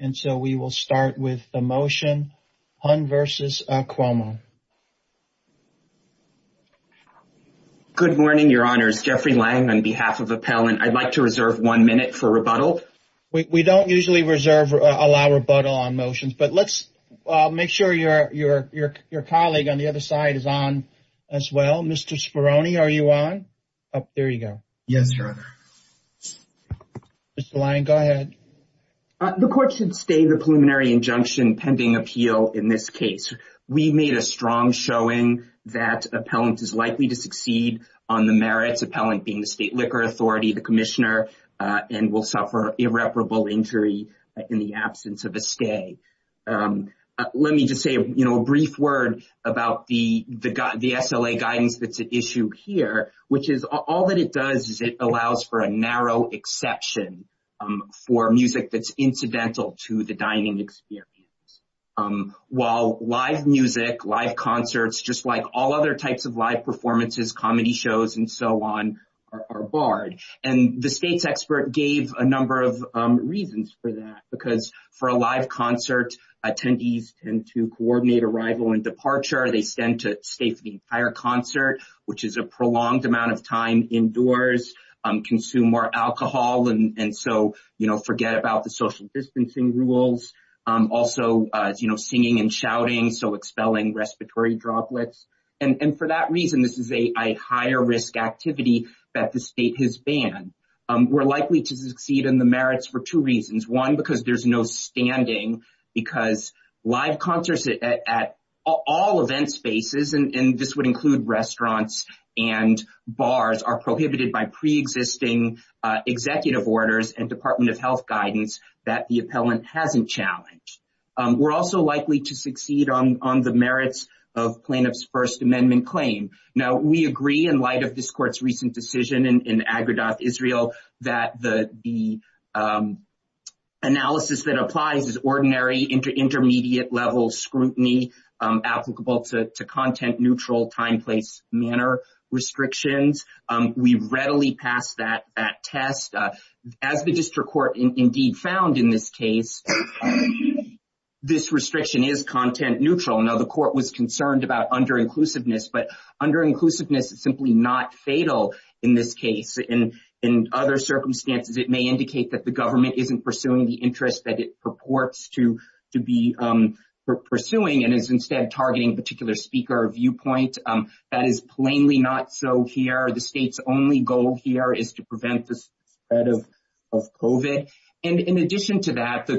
and so we will start with the motion Hunn versus Cuomo. Good morning your honors Jeffrey Lang on behalf of Appellant. I'd like to reserve one minute for rebuttal. We don't usually reserve or allow rebuttal on motions but let's make sure your colleague on the other side is on as well. Mr. Speroni are you on? Oh there you go. Yes your honor. Mr. Lang go ahead. The court should stay the preliminary injunction pending appeal in this case. We made a strong showing that Appellant is likely to succeed on the merits Appellant being the State Liquor Authority the Commissioner and will suffer irreparable injury in the absence of a stay. Let me just say you know a brief word about the the SLA guidance that's an issue here which is all that it does is it allows for a narrow exception for music that's incidental to the dining experience. While live music live concerts just like all other types of live performances comedy shows and so on are barred and the state's expert gave a number of reasons for that because for a live concert attendees tend to coordinate arrival and departure they stand to stay for the entire concert which is a prolonged amount of time indoors consume more alcohol and and so you know forget about the social distancing rules also you know singing and shouting so expelling respiratory droplets and and for that reason this is a higher risk activity that the state has banned. We're likely to succeed in the merits for two reasons one because there's no standing because live concerts at all event spaces and this would include restaurants and bars are prohibited by pre-existing executive orders and Department of Health guidance that the Appellant hasn't challenged. We're also likely to succeed on the merits of plaintiffs First Amendment claim. Now we agree in light of this court's recent decision in Agra dot Israel that the the analysis that applies is ordinary intermediate level scrutiny applicable to content neutral time place manner restrictions. We readily passed that that test as the district court indeed found in this case this restriction is content neutral. Now the court was concerned about under inclusiveness but under inclusiveness is simply not fatal in this case and in other circumstances it may indicate that the government isn't pursuing the interest that it purports to to be pursuing and is instead targeting particular speaker viewpoint that is plainly not so here the state's only goal here is to prevent the spread of COVID and in addition to that the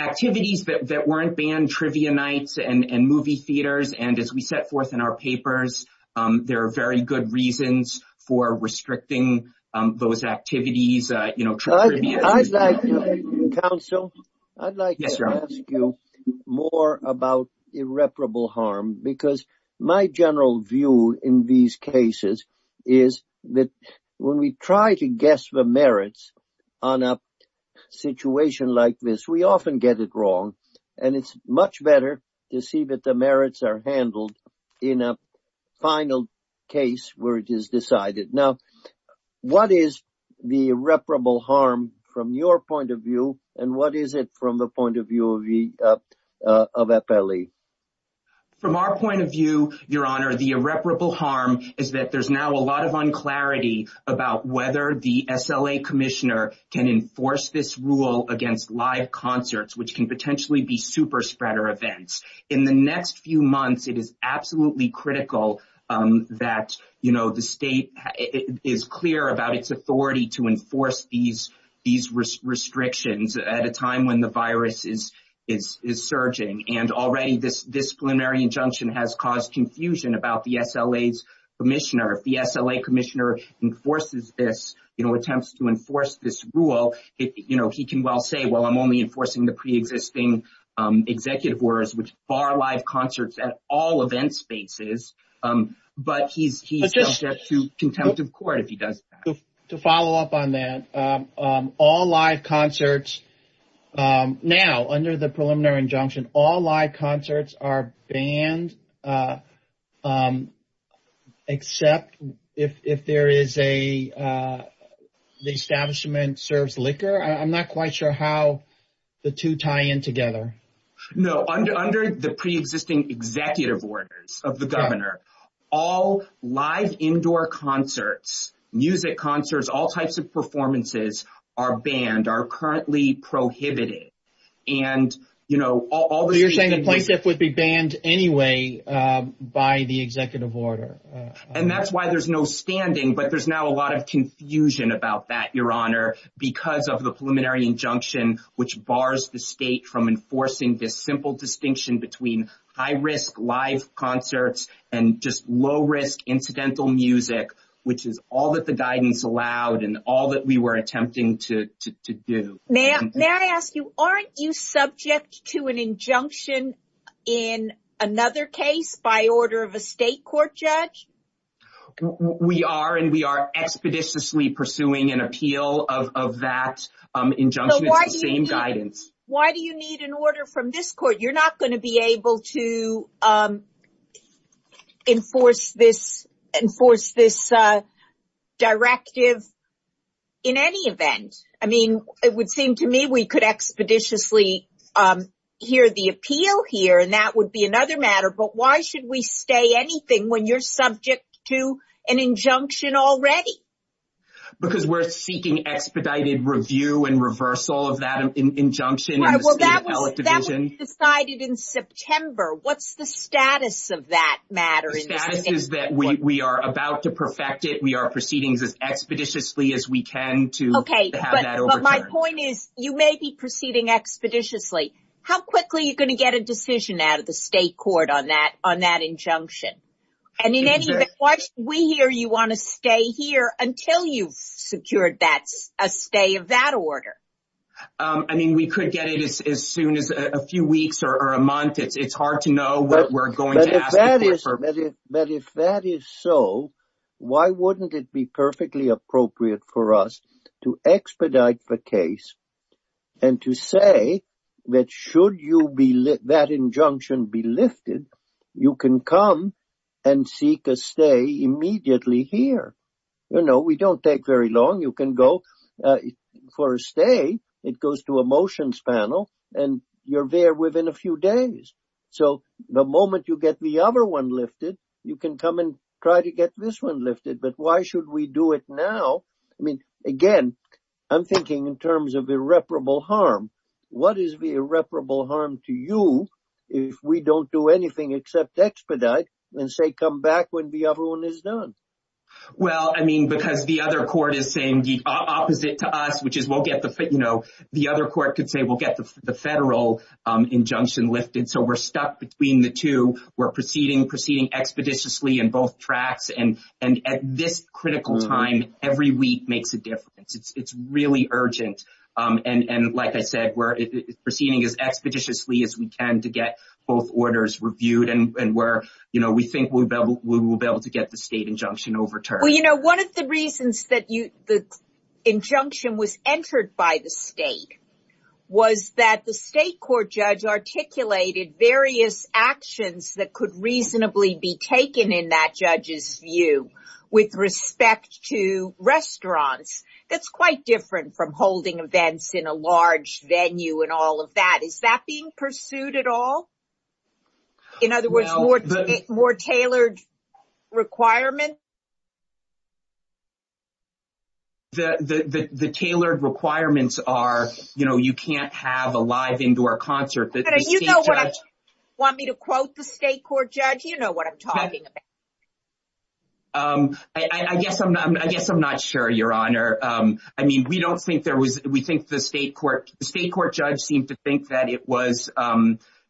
activities that weren't banned trivia nights and and movie theaters and as we set forth in our papers there are very good reasons for restricting those activities you know I'd like to ask you more about irreparable harm because my general view in these cases is that when we try to guess the merits on a situation like this we often get it wrong and it's much better to see that the merits are handled in a final case where it is decided now what is the reputable harm from your point of view and what is it from the point of view of the of a belly from our point of view your honor the irreparable harm is that there's now a lot of unclarity about whether the SLA Commissioner can enforce this rule against live concerts which can potentially be super spreader events in the next few months it is absolutely critical that you know the state is clear about its authority to enforce these these restrictions at a time when the virus is is surging and already this disciplinary injunction has caused confusion about the SLA's Commissioner if the SLA Commissioner enforces this you know attempts to enforce this rule it you know he can well say well I'm only enforcing the pre-existing executive orders which bar live concerts at all events spaces but he's just to contempt of court if he does to follow up on that all live concerts now under the preliminary injunction all live concerts except if there is a the establishment serves liquor I'm not quite sure how the two tie in together no under the pre-existing executive orders of the governor all live indoor concerts music concerts all types of performances are banned are currently prohibited and you know all the you're banned anyway by the executive order and that's why there's no standing but there's now a lot of confusion about that your honor because of the preliminary injunction which bars the state from enforcing this simple distinction between high-risk live concerts and just low-risk incidental music which is all that the guidance allowed and all that we were attempting to do now may I ask you aren't you subject to an injunction in another case by order of a state court judge we are and we are expeditiously pursuing an appeal of that injunction same guidance why do you need an order from this court you're not going to be able to enforce this and force this directive in any of and I mean it would seem to me we could expeditiously hear the appeal here and that would be another matter but why should we stay anything when you're subject to an injunction already because we're seeking expedited review and reversal of that injunction that was decided in September what's the status of that matter is that we are about to perfect it we are proceedings as you may be proceeding expeditiously how quickly you're going to get a decision out of the state court on that on that injunction and in any of it what we hear you want to stay here until you've secured that's a stay of that order I mean we could get it as soon as a few weeks or a month it's hard to know what we're going to but if that is so why wouldn't it be perfectly appropriate for us to expedite the case and to say that should you be let that injunction be lifted you can come and seek a stay immediately here you know we don't take very long you can go for a stay it goes to a motions panel and you're there within a few days so the moment you get the other one lifted you can come and again I'm thinking in terms of irreparable harm what is the irreparable harm to you if we don't do anything except expedite and say come back when the other one is done well I mean because the other court is saying the opposite to us which is we'll get the fit you know the other court could say we'll get the federal injunction lifted so we're stuck between the two we're proceeding proceeding expeditiously in both tracks and and at this critical time every week makes a difference it's really urgent and and like I said we're proceeding as expeditiously as we can to get both orders reviewed and where you know we think we will be able to get the state injunction overturned well you know one of the reasons that you the injunction was entered by the state was that the state court judge articulated various actions that could reasonably be to restaurants that's quite different from holding events in a large venue and all of that is that being pursued at all in other words more more tailored requirement the the the tailored requirements are you know you can't have a live indoor concert that you know what I want me to quote the state court judge I guess I'm not sure your honor I mean we don't think there was we think the state court state court judge seemed to think that it was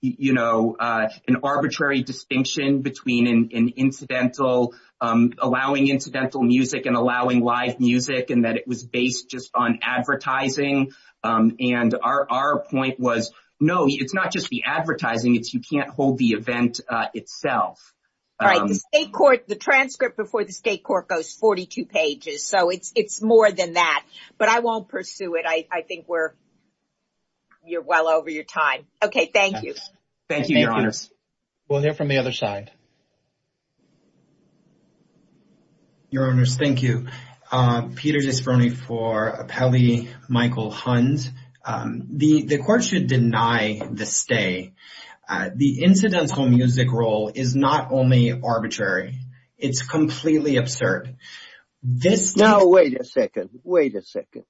you know an arbitrary distinction between an incidental allowing incidental music and allowing live music and that it was based just on advertising and our point was no it's not just the advertising it's you can't hold the event itself right the state court the transcript before the state court goes 42 pages so it's it's more than that but I won't pursue it I think we're you're well over your time okay thank you thank you your honors we'll hear from the other side your owners thank you Peters is for me for a Pele Michael Huns the the court should deny the stay the incidental music role is not only arbitrary it's completely absurd this now wait a second wait a second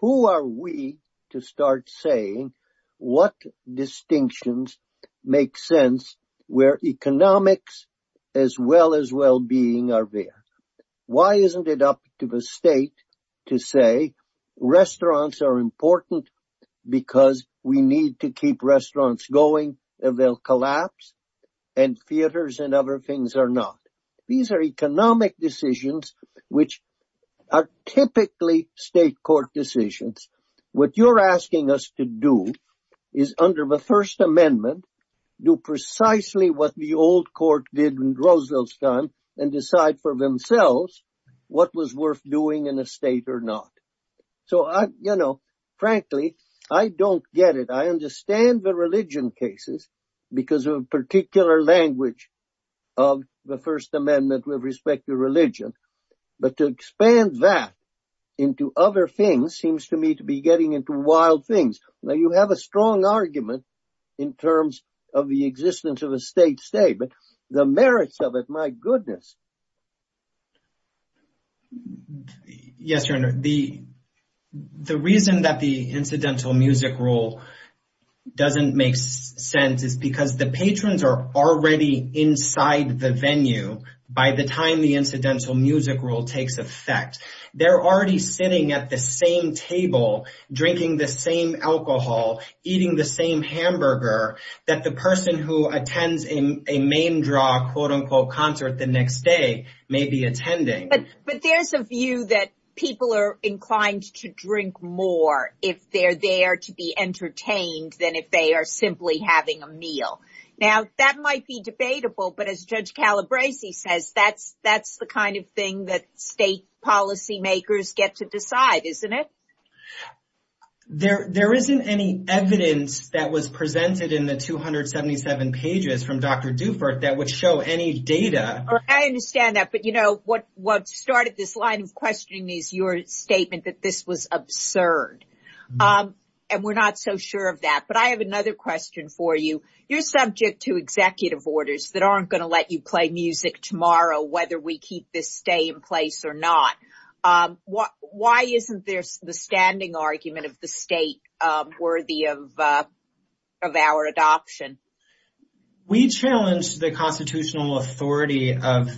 who are we to start saying what distinctions make sense where economics as well as well-being are there why isn't it up to the state to say restaurants are important because we need to keep restaurants going and they'll collapse and theaters and other things are not these are economic decisions which are typically state court decisions what you're asking us to do is under the First Amendment do precisely what the old court did in Roosevelt's time and decide for themselves what was worth doing in a state or not so I you know frankly I don't get it I understand the religion cases because of a particular language of the First Amendment with respect to religion but to expand that into other things seems to me to be getting into wild things now you have a strong argument in terms of the existence of a state stay but the merits of it my rule doesn't make sense is because the patrons are already inside the venue by the time the incidental music rule takes effect they're already sitting at the same table drinking the same alcohol eating the same hamburger that the person who attends in a main draw quote-unquote concert the next day may be attending but there's a view that people are inclined to drink more if they're there to be entertained than if they are simply having a meal now that might be debatable but as Judge Calabrese says that's that's the kind of thing that state policymakers get to decide isn't it there there isn't any evidence that was presented in the 277 pages from Dr. Dufour that would show any data I understand that but you know what what started this line of statement that this was absurd and we're not so sure of that but I have another question for you you're subject to executive orders that aren't going to let you play music tomorrow whether we keep this stay in place or not what why isn't there's the standing argument of the state worthy of of our adoption we challenged the constitutional authority of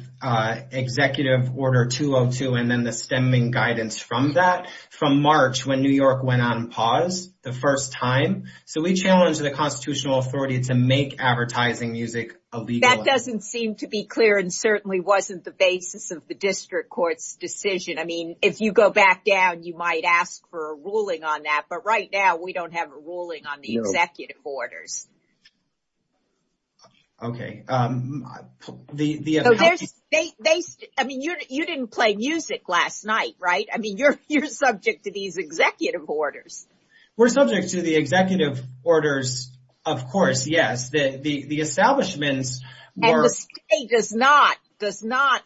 executive order 202 and then the guidance from that from March when New York went on pause the first time so we challenged the constitutional authority to make advertising music that doesn't seem to be clear and certainly wasn't the basis of the district courts decision I mean if you go back down you might ask for a ruling on that but right now we don't have a ruling on the executive orders okay I mean you didn't play music last night right I mean you're you're subject to these executive orders we're subject to the executive orders of course yes the the establishments does not does not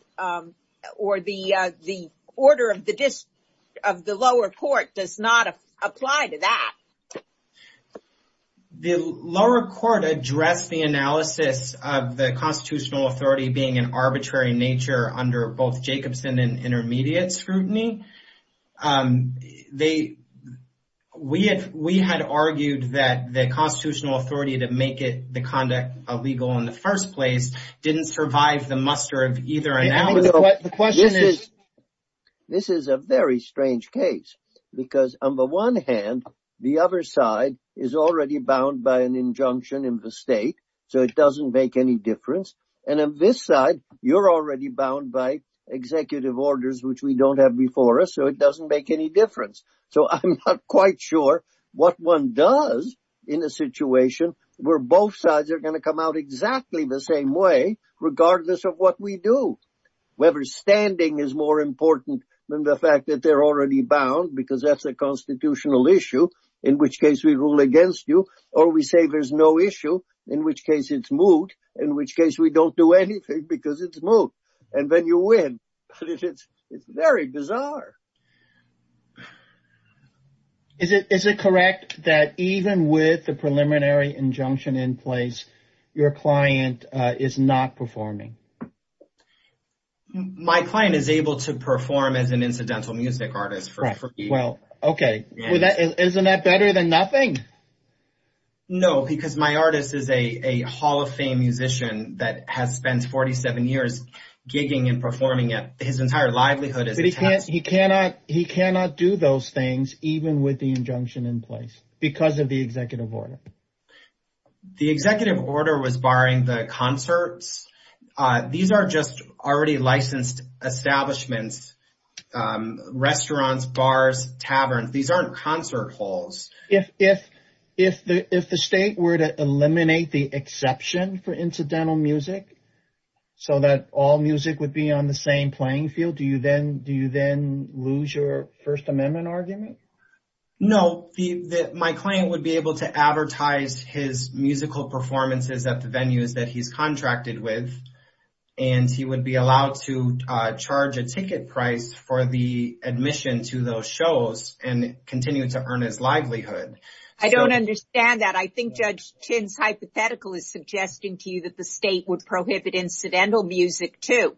or the the order of the dish of the lower court does not apply to that the lower court address the analysis of the intermediate scrutiny they we have we had argued that the constitutional authority to make it the conduct of legal in the first place didn't survive the muster of either analysis what the question is this is a very strange case because on the one hand the other side is already bound by an injunction in the state so it doesn't make any difference and on this side you're already bound by executive orders which we don't have before us so it doesn't make any difference so I'm not quite sure what one does in a situation where both sides are going to come out exactly the same way regardless of what we do whoever's standing is more important than the fact that they're already bound because that's a constitutional issue in which case we rule against you or we say there's no issue in which case it's moot in which case we don't do anything because it's moot and then you win it's it's very bizarre is it is it correct that even with the preliminary injunction in place your client is not performing my client is able to perform as an incidental music artist for free well okay well that isn't that better than nothing no because my artist is a Hall of Fame musician that has spent 47 years gigging and performing at his entire livelihood as he can't he cannot he cannot do those things even with the injunction in place because of the executive order the executive order was barring the concerts these are just already licensed establishments restaurants bars taverns these aren't concert halls if if if the if the state were to eliminate the exception for incidental music so that all music would be on the same playing field do you then do you then lose your First Amendment argument no the my client would be able to advertise his musical performances at the venues that he's contracted with and he would be allowed to charge a ticket price for the admission to those shows and continue to his livelihood I don't understand that I think judge Chin's hypothetical is suggesting to you that the state would prohibit incidental music too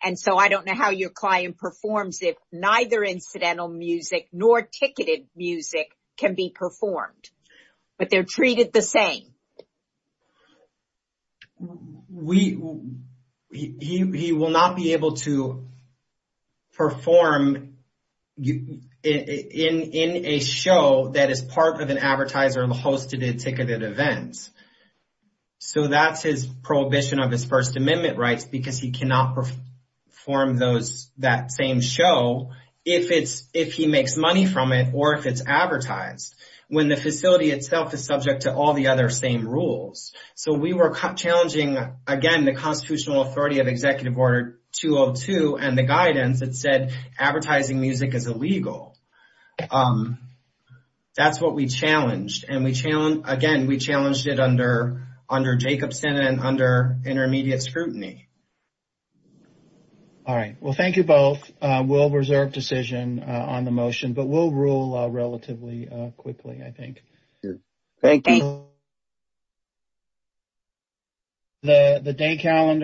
and so I don't know how your client performs if neither incidental music nor ticketed music can be performed but they're treated the same we will not be able to perform in a show that is part of an advertiser hosted a ticketed events so that's his prohibition of his First Amendment rights because he cannot perform those that same show if it's if he makes money from it or if it's advertised when the facility itself is subject to all the other same rules so we were challenging again the Constitutional Authority of Executive Order 202 and the guidance that said advertising music is illegal that's what we challenged and we challenge again we challenged it under under Jacobson and under intermediate scrutiny all right well thank you both we'll reserve decision on the motion but we'll rule relatively quickly I think thank you the the day calendar